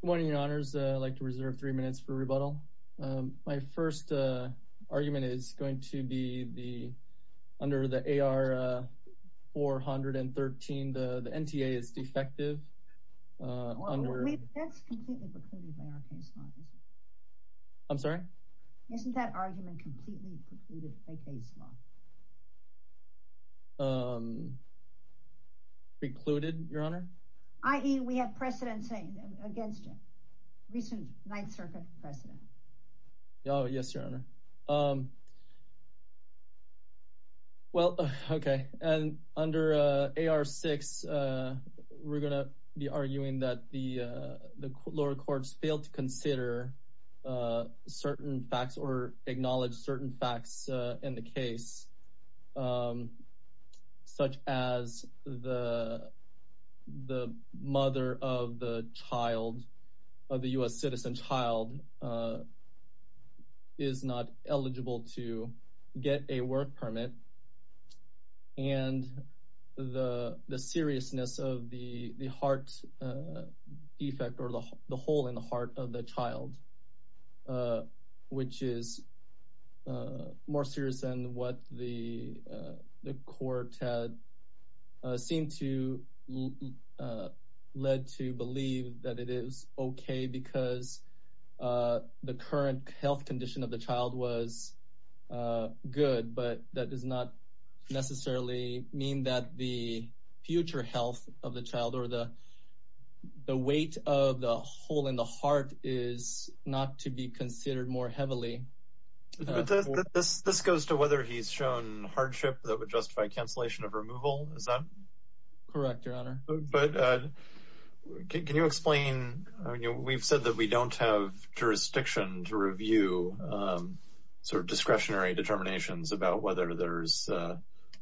Good morning, your honors. I'd like to reserve three minutes for rebuttal. My first argument is going to be the under the AR 413, the NTA is defective. That's completely precluded by our case law, isn't it? I'm sorry? Isn't that argument completely precluded by case law? Precluded, your honor? I.e. we have precedent against it. Recent 9th Circuit precedent. Oh, yes, your honor. Well, okay. And under AR 6, we're going to be arguing that the lower courts failed to consider certain facts or acknowledge certain facts in the case. Such as the mother of the child of the U.S. citizen child is not eligible to get a work permit and the seriousness of the heart defect or the hole in the heart of the child, which is more serious than what the court had seemed to lead to believe that it is okay because the current health condition of the child was good. But that does not necessarily mean that the future health of the child or the weight of the hole in the heart is not to be considered more heavily. This goes to whether he's shown hardship that would justify cancellation of removal. Is that correct? Your honor. But can you explain? We've said that we don't have jurisdiction to review sort of discretionary determinations about whether there's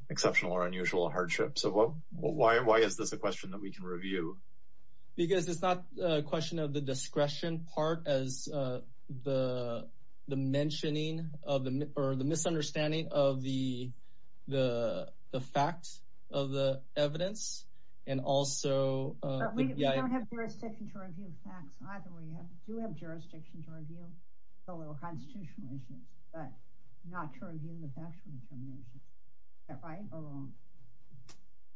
exceptional or unusual hardship. So why is this a question that we can review? Because it's not a question of the discretion part as the mentioning of the or the misunderstanding of the fact of the evidence. And also, we don't have jurisdiction to review facts either. We do have jurisdiction to review a little constitutional issues, but not to review the factual determinations, right?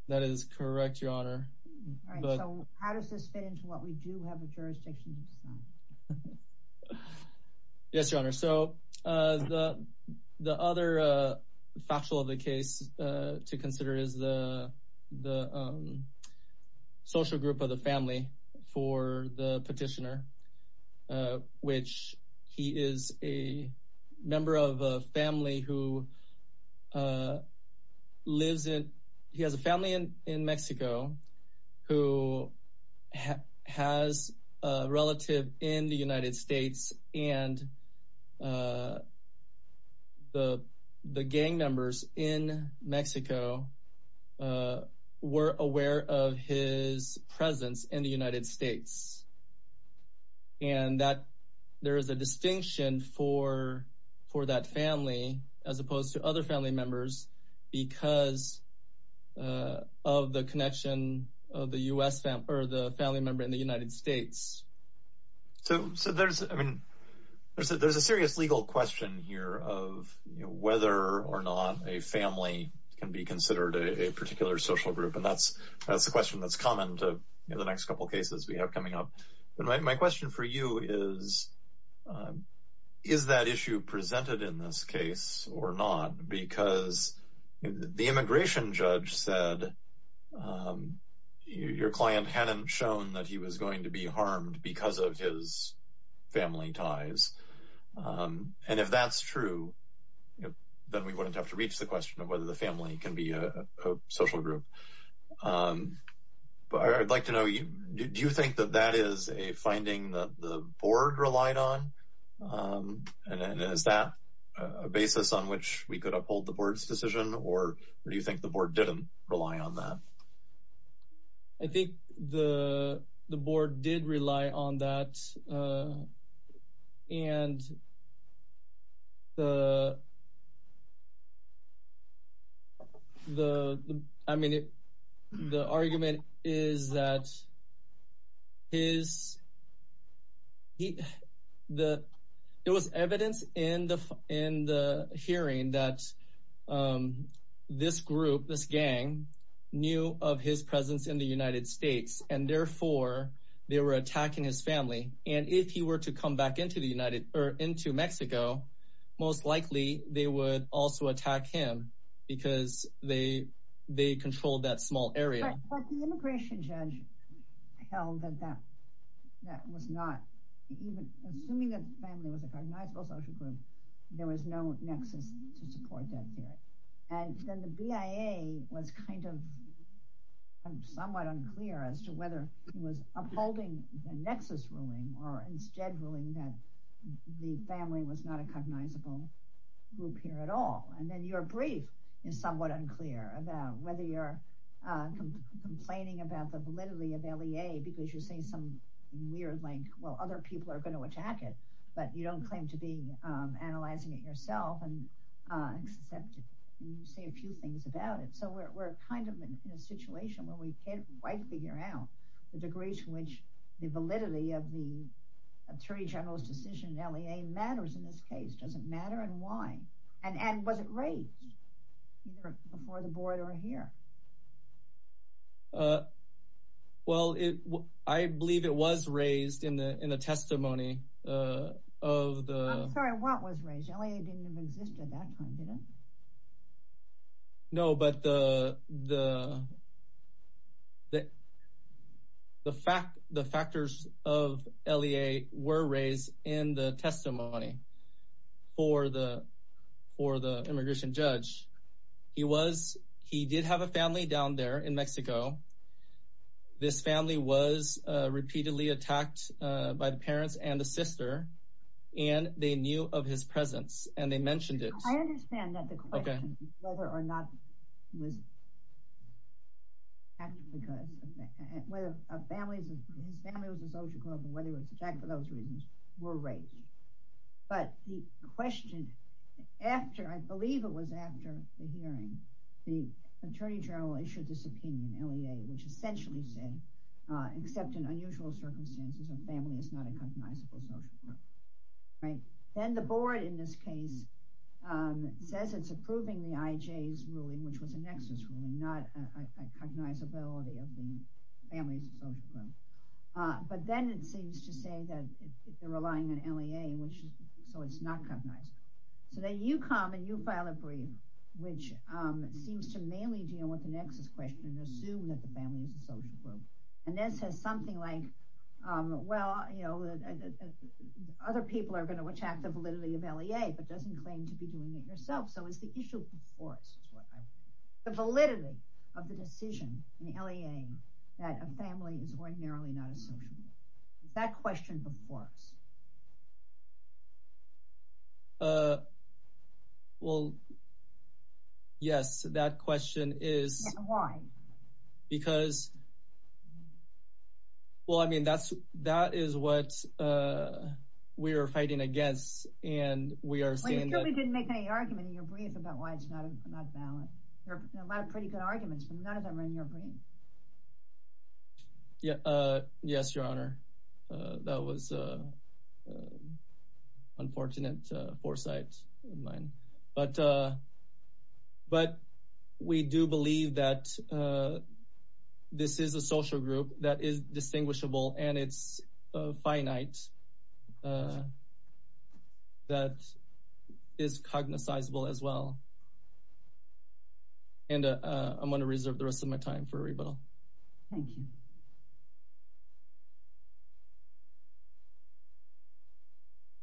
That is correct, your honor. So how does this fit into what we do have a jurisdiction to decide? Yes, your honor. So the other factual of the case to consider is the social group of the family for the petitioner, which he is a member of a family who lives in. He has a family in Mexico who has a relative in the United States and the gang members in Mexico were aware of his presence in the United States. And that there is a distinction for for that family as opposed to other family members because of the connection of the U.S. family or the family member in the United States. So there's I mean, there's a serious legal question here of whether or not a family can be considered a particular social group. And that's that's the question that's common to the next couple of cases we have coming up. But my question for you is, is that issue presented in this case or not? Because the immigration judge said your client hadn't shown that he was going to be harmed because of his family ties. And if that's true, then we wouldn't have to reach the question of whether the family can be a social group. But I'd like to know, do you think that that is a finding that the board relied on? And is that a basis on which we could uphold the board's decision or do you think the board didn't rely on that? I think the the board did rely on that. And the. The I mean, the argument is that. His. It was evidence in the in the hearing that this group, this gang knew of his presence in the United States, and therefore they were attacking his family. And if he were to come back into the United or into Mexico, most likely they would also attack him because they they controlled that small area. But the immigration judge held that that that was not even assuming that the family was a cognizable social group. There was no nexus to support that theory. And then the BIA was kind of somewhat unclear as to whether he was upholding the nexus ruling or instead ruling that the family was not a cognizable group here at all. And then your brief is somewhat unclear about whether you're complaining about the validity of L.A. because you're saying some weird like, well, other people are going to attack it, but you don't claim to be analyzing it yourself and say a few things about it. So we're kind of in a situation where we can't quite figure out the degrees to which the validity of the attorney general's decision matters in this case. Does it matter and why? And was it raised before the board or here? Well, I believe it was raised in the testimony of the. What was raised? L.A. didn't exist at that time, did it? No, but the the. The fact the factors of L.A. were raised in the testimony for the for the immigration judge, he was he did have a family down there in Mexico. This family was repeatedly attacked by the parents and the sister, and they knew of his presence and they mentioned it. I understand that the question whether or not was. Because whether a family's family was a social group or whether it was attacked for those reasons were raised. But the question after I believe it was after the hearing, the attorney general issued this opinion, L.A., which essentially said, except in unusual circumstances, a family is not a cognizable social group. Then the board in this case says it's approving the IJ's ruling, which was a nexus ruling, not a cognizability of the family's social group. But then it seems to say that they're relying on L.A. which is so it's not cognizable. So then you come and you file a brief which seems to mainly deal with the nexus question and assume that the family is a social group. And this is something like, well, you know, other people are going to attack the validity of L.A. but doesn't claim to be doing it yourself. So it's the issue before us. The validity of the decision in L.A. that a family is ordinarily not a social group. That question before us. Well. Yes, that question is why? Because. Well, I mean, that's that is what we are fighting against and we are saying that we didn't make any argument in your brief about why it's not valid. There are a lot of pretty good arguments, but none of them are in your brief. Yeah. Yes, your honor. That was unfortunate foresight of mine. But but we do believe that this is a social group that is distinguishable and it's finite. That is cognizable as well. And I'm going to reserve the rest of my time for a rebuttal. Thank you.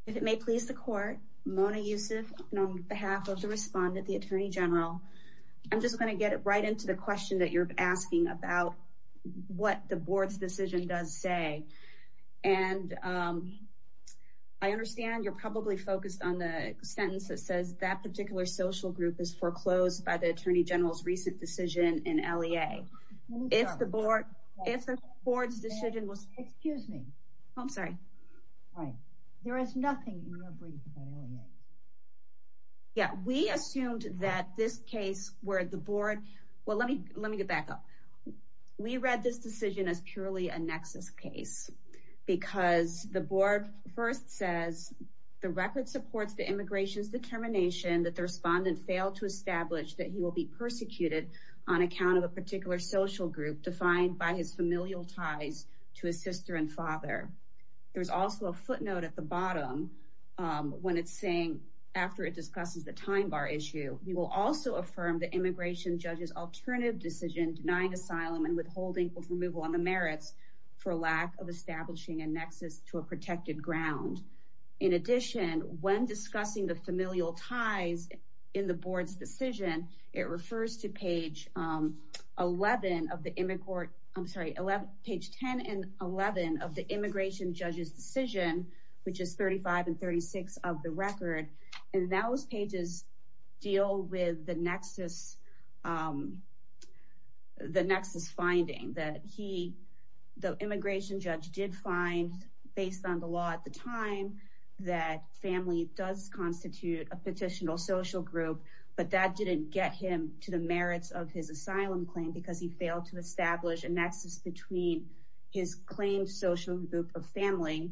If it may please the court, Mona Yusuf, on behalf of the respondent, the attorney general, I'm just going to get it right into the question that you're asking about what the board's decision does say. And I understand you're probably focused on the sentence that says that particular social group is foreclosed by the attorney general's recent decision in L.A. If the board if the board's decision was. Excuse me. I'm sorry. Right. There is nothing in your brief. Yeah, we assumed that this case where the board. Well, let me let me get back up. We read this decision as purely a nexus case because the board first says the record supports the immigration's determination that the respondent failed to establish that he will be persecuted on account of a particular social group defined by his familial ties to his sister and father. There's also a footnote at the bottom when it's saying after it discusses the time bar issue. We will also affirm the immigration judges alternative decision denying asylum and withholding removal on the merits for lack of establishing a nexus to a protected ground. In addition, when discussing the familial ties in the board's decision, it refers to page 11 of the immigrant. I'm sorry. Page 10 and 11 of the immigration judges decision, which is 35 and 36 of the record. And those pages deal with the nexus, the nexus finding that he the immigration judge did find based on the law at the time that family does constitute a petition or social group. But that didn't get him to the merits of his asylum claim because he failed to establish a nexus between his claimed social group of family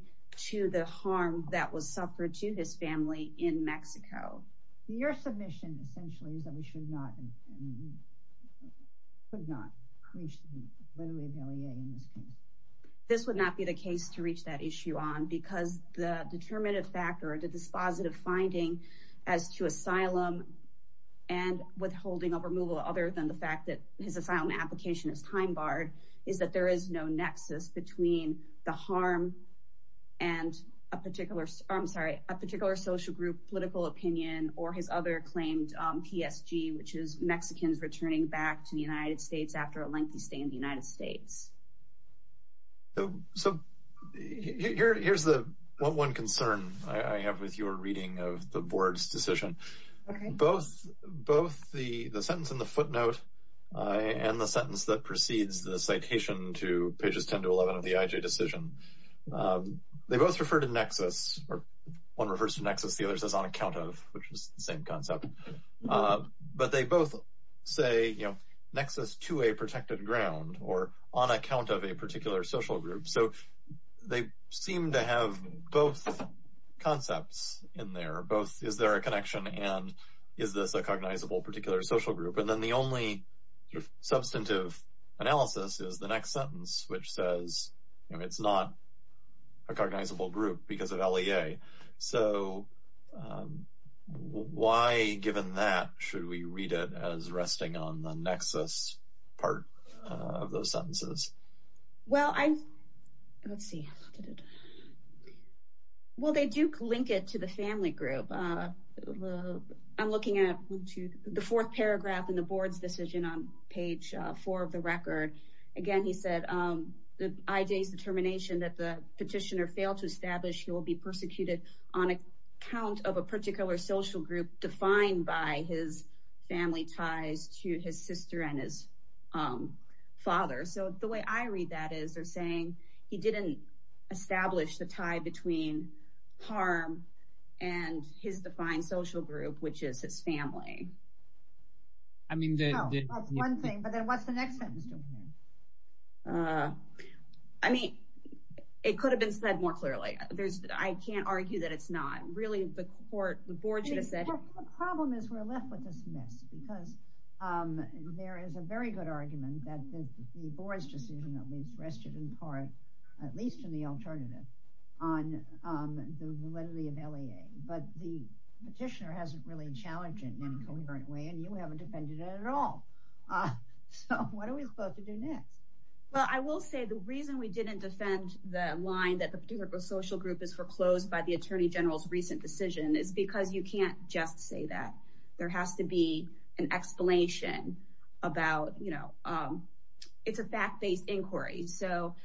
to the harm that was suffered to his family in Mexico. Your submission essentially is that we should not. This would not be the case to reach that issue on because the determinative factor or the dispositive finding as to asylum and withholding of removal, other than the fact that his asylum application is time barred, is that there is no nexus between the harm and a particular I'm sorry, a particular social group political opinion or his other claimed PSG, which is Mexico. So, so here's the one concern I have with your reading of the board's decision. Both both the sentence in the footnote and the sentence that precedes the citation to pages 10 to 11 of the IJ decision. They both referred to nexus or one reverse nexus. The other says on account of which is the same concept, but they both say, you know, nexus to a protected ground or on account of a particular social group. So they seem to have both concepts in there. Both is there a connection and is this a cognizable particular social group? And then the only substantive analysis is the next sentence, which says it's not a cognizable group because of LEA. So why, given that, should we read it as resting on the nexus part of those sentences? Well, I, let's see. Well, they do link it to the family group. I'm looking at the fourth paragraph in the board's decision on page four of the record. Again, he said the IJ's determination that the petitioner failed to establish he will be persecuted on account of a particular social group defined by his family ties to his sister and his father. So the way I read that is they're saying he didn't establish the tie between harm and his defined social group, which is his family. I mean, that's one thing. But then what's the next sentence? I mean, it could have been said more clearly. I can't argue that it's not really the court. The problem is we're left with this mess because there is a very good argument that the board's decision at least rested in part, at least in the alternative, on the validity of LEA. But the petitioner hasn't really challenged it in any coherent way. And you haven't defended it at all. So what are we supposed to do next? Well, I will say the reason we didn't defend the line that the particular social group is foreclosed by the attorney general's recent decision is because you can't just say that. There has to be an explanation about, you know, it's a fact-based inquiry. So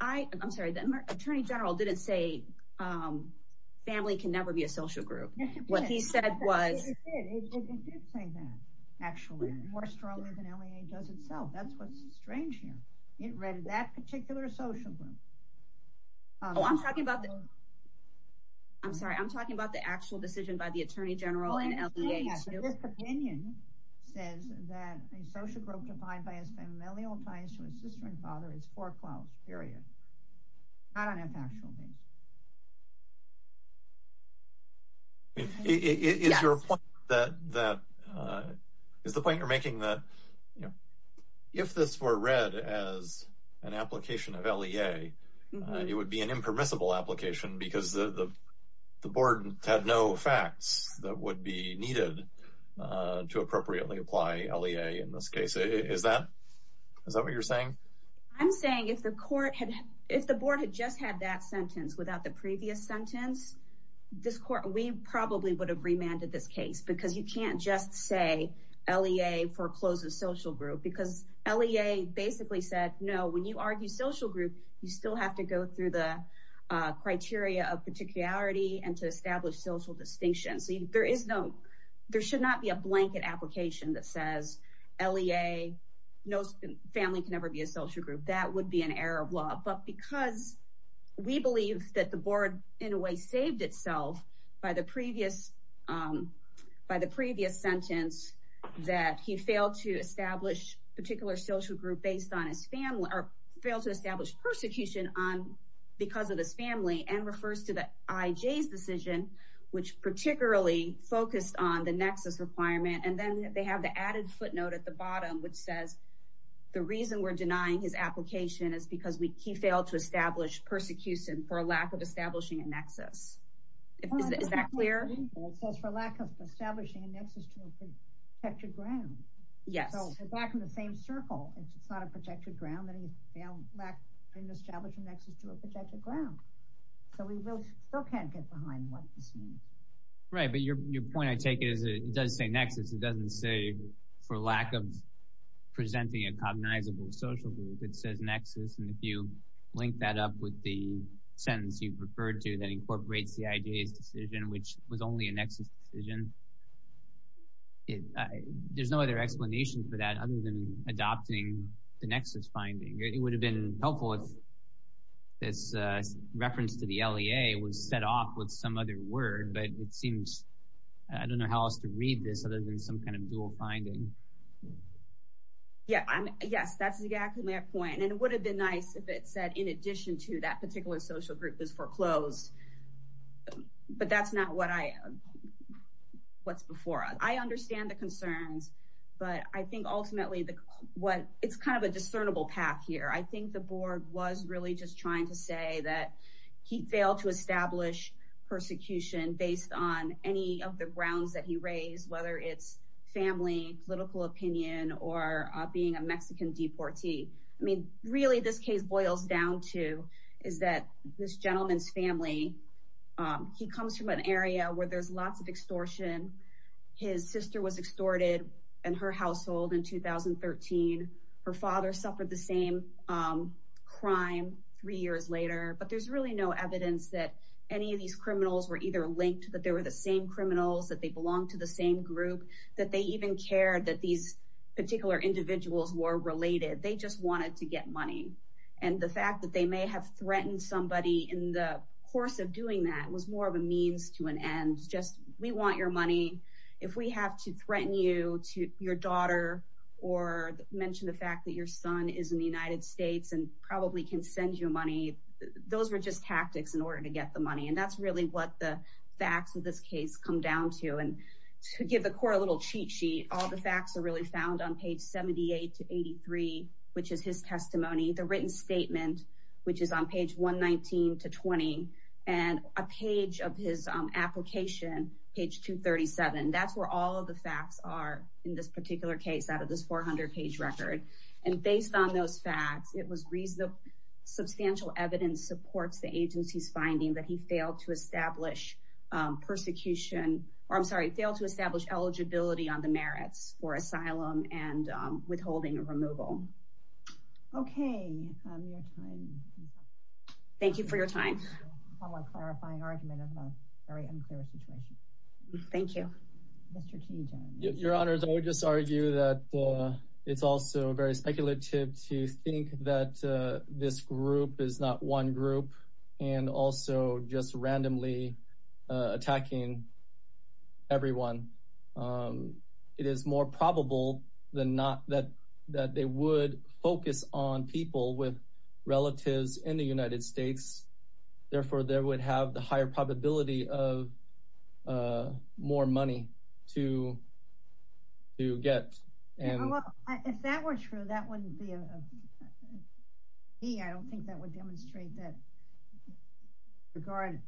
I'm sorry, the attorney general didn't say family can never be a social group. It did say that, actually, more strongly than LEA does itself. That's what's strange here. It read that particular social group. I'm sorry, I'm talking about the actual decision by the attorney general and LEA, too. This opinion says that a social group defined by its familial ties to its sister and father is foreclosed, period. Not on a factual basis. Is your point that, is the point you're making that, you know, if this were read as an application of LEA, it would be an impermissible application because the board had no facts that would be needed to appropriately apply LEA in this case? I'm saying if the court had, if the board had just had that sentence without the previous sentence, this court, we probably would have remanded this case because you can't just say LEA forecloses social group. Because LEA basically said, no, when you argue social group, you still have to go through the criteria of particularity and to establish social distinction. So there is no, there should not be a blanket application that says LEA knows family can never be a social group. That would be an error of law. But because we believe that the board in a way saved itself by the previous, by the previous sentence that he failed to establish particular social group based on his family or failed to establish persecution on because of his family and refers to the IJ's decision, which particularly focused on the nexus requirement. And then they have the added footnote at the bottom, which says the reason we're denying his application is because we, he failed to establish persecution for a lack of establishing a nexus. Is that clear? For lack of establishing a nexus to a protected ground. Yes. So we're back in the same circle. It's not a protected ground that he failed to establish a nexus to a protected ground. So we still can't get behind what this means. Right. But your point I take is it does say nexus. It doesn't say for lack of presenting a cognizable social group, it says nexus. And if you link that up with the sentence you've referred to that incorporates the IJ's decision, which was only a nexus decision, there's no other explanation for that other than adopting the nexus finding. It would have been helpful if this reference to the LEA was set off with some other word, but it seems, I don't know how else to read this other than some kind of dual finding. Yeah. Yes, that's exactly my point. And it would have been nice if it said in addition to that particular social group is foreclosed. But that's not what I, what's before us. I understand the concerns, but I think ultimately what it's kind of a discernible path here. I think the board was really just trying to say that he failed to establish persecution based on any of the grounds that he raised, whether it's family, political opinion, or being a Mexican deportee. I mean, really this case boils down to is that this gentleman's family, he comes from an area where there's lots of extortion. His sister was extorted in her household in 2013. Her father suffered the same crime three years later. But there's really no evidence that any of these criminals were either linked, that they were the same criminals, that they belonged to the same group, that they even cared that these particular individuals were related. They just wanted to get money. And the fact that they may have threatened somebody in the course of doing that was more of a means to an end. Just we want your money. If we have to threaten you to your daughter or mention the fact that your son is in the United States and probably can send you money, those were just tactics in order to get the money. And that's really what the facts of this case come down to. And to give the court a little cheat sheet, all the facts are really found on page 78 to 83, which is his testimony. The written statement, which is on page 119 to 20, and a page of his application, page 237. That's where all of the facts are in this particular case out of this 400-page record. And based on those facts, it was reasonable. Substantial evidence supports the agency's finding that he failed to establish eligibility on the merits for asylum and withholding a removal. Okay. Thank you for your time. A clarifying argument of a very unclear situation. Thank you. Your Honor, I would just argue that it's also very speculative to think that this group is not one group and also just randomly attacking everyone. It is more probable than not that they would focus on people with relatives in the United States. Therefore, they would have the higher probability of more money to get. If that were true, I don't think that would demonstrate that he was being threatened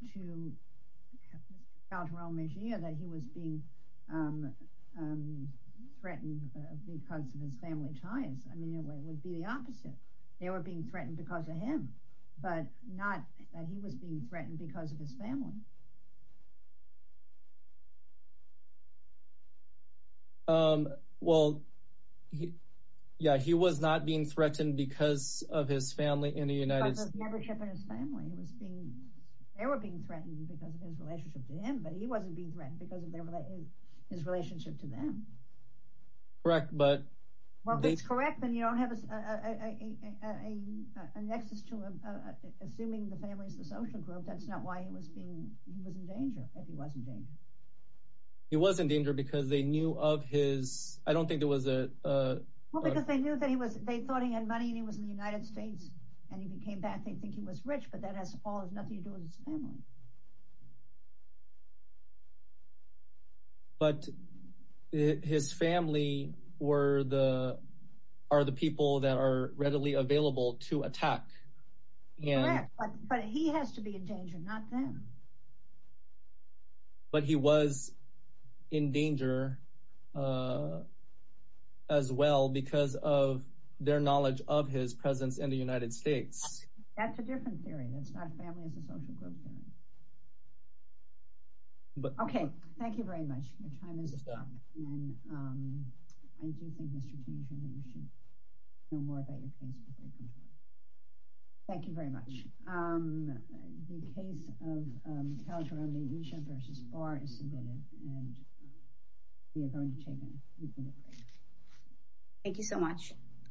because of his family ties. It would be the opposite. They were being threatened because of him, but not that he was being threatened because of his family. Well, yeah, he was not being threatened because of his family in the United States. Because of the membership in his family. They were being threatened because of his relationship to him, but he wasn't being threatened because of his relationship to them. Correct. Well, if it's correct, then you don't have a nexus to him. Assuming the family is the social group, that's not why he was in danger, if he was in danger. He was in danger because they knew of his... I don't think there was a... Well, because they knew that he was... They thought he had money and he was in the United States. And if he came back, they'd think he was rich, but that has nothing to do with his family. But his family are the people that are readily available to attack. Correct, but he has to be in danger, not them. But he was in danger as well because of their knowledge of his presence in the United States. That's a different theory. That's not a family as a social group theory. Okay, thank you very much. Your time is up. And I do think, Mr. Tietjen, that you should know more about your case before you come to us. Thank you very much. The case of Khalid Khurram Ali Isha versus Barr is submitted. And we are going to take a brief interview. Thank you so much.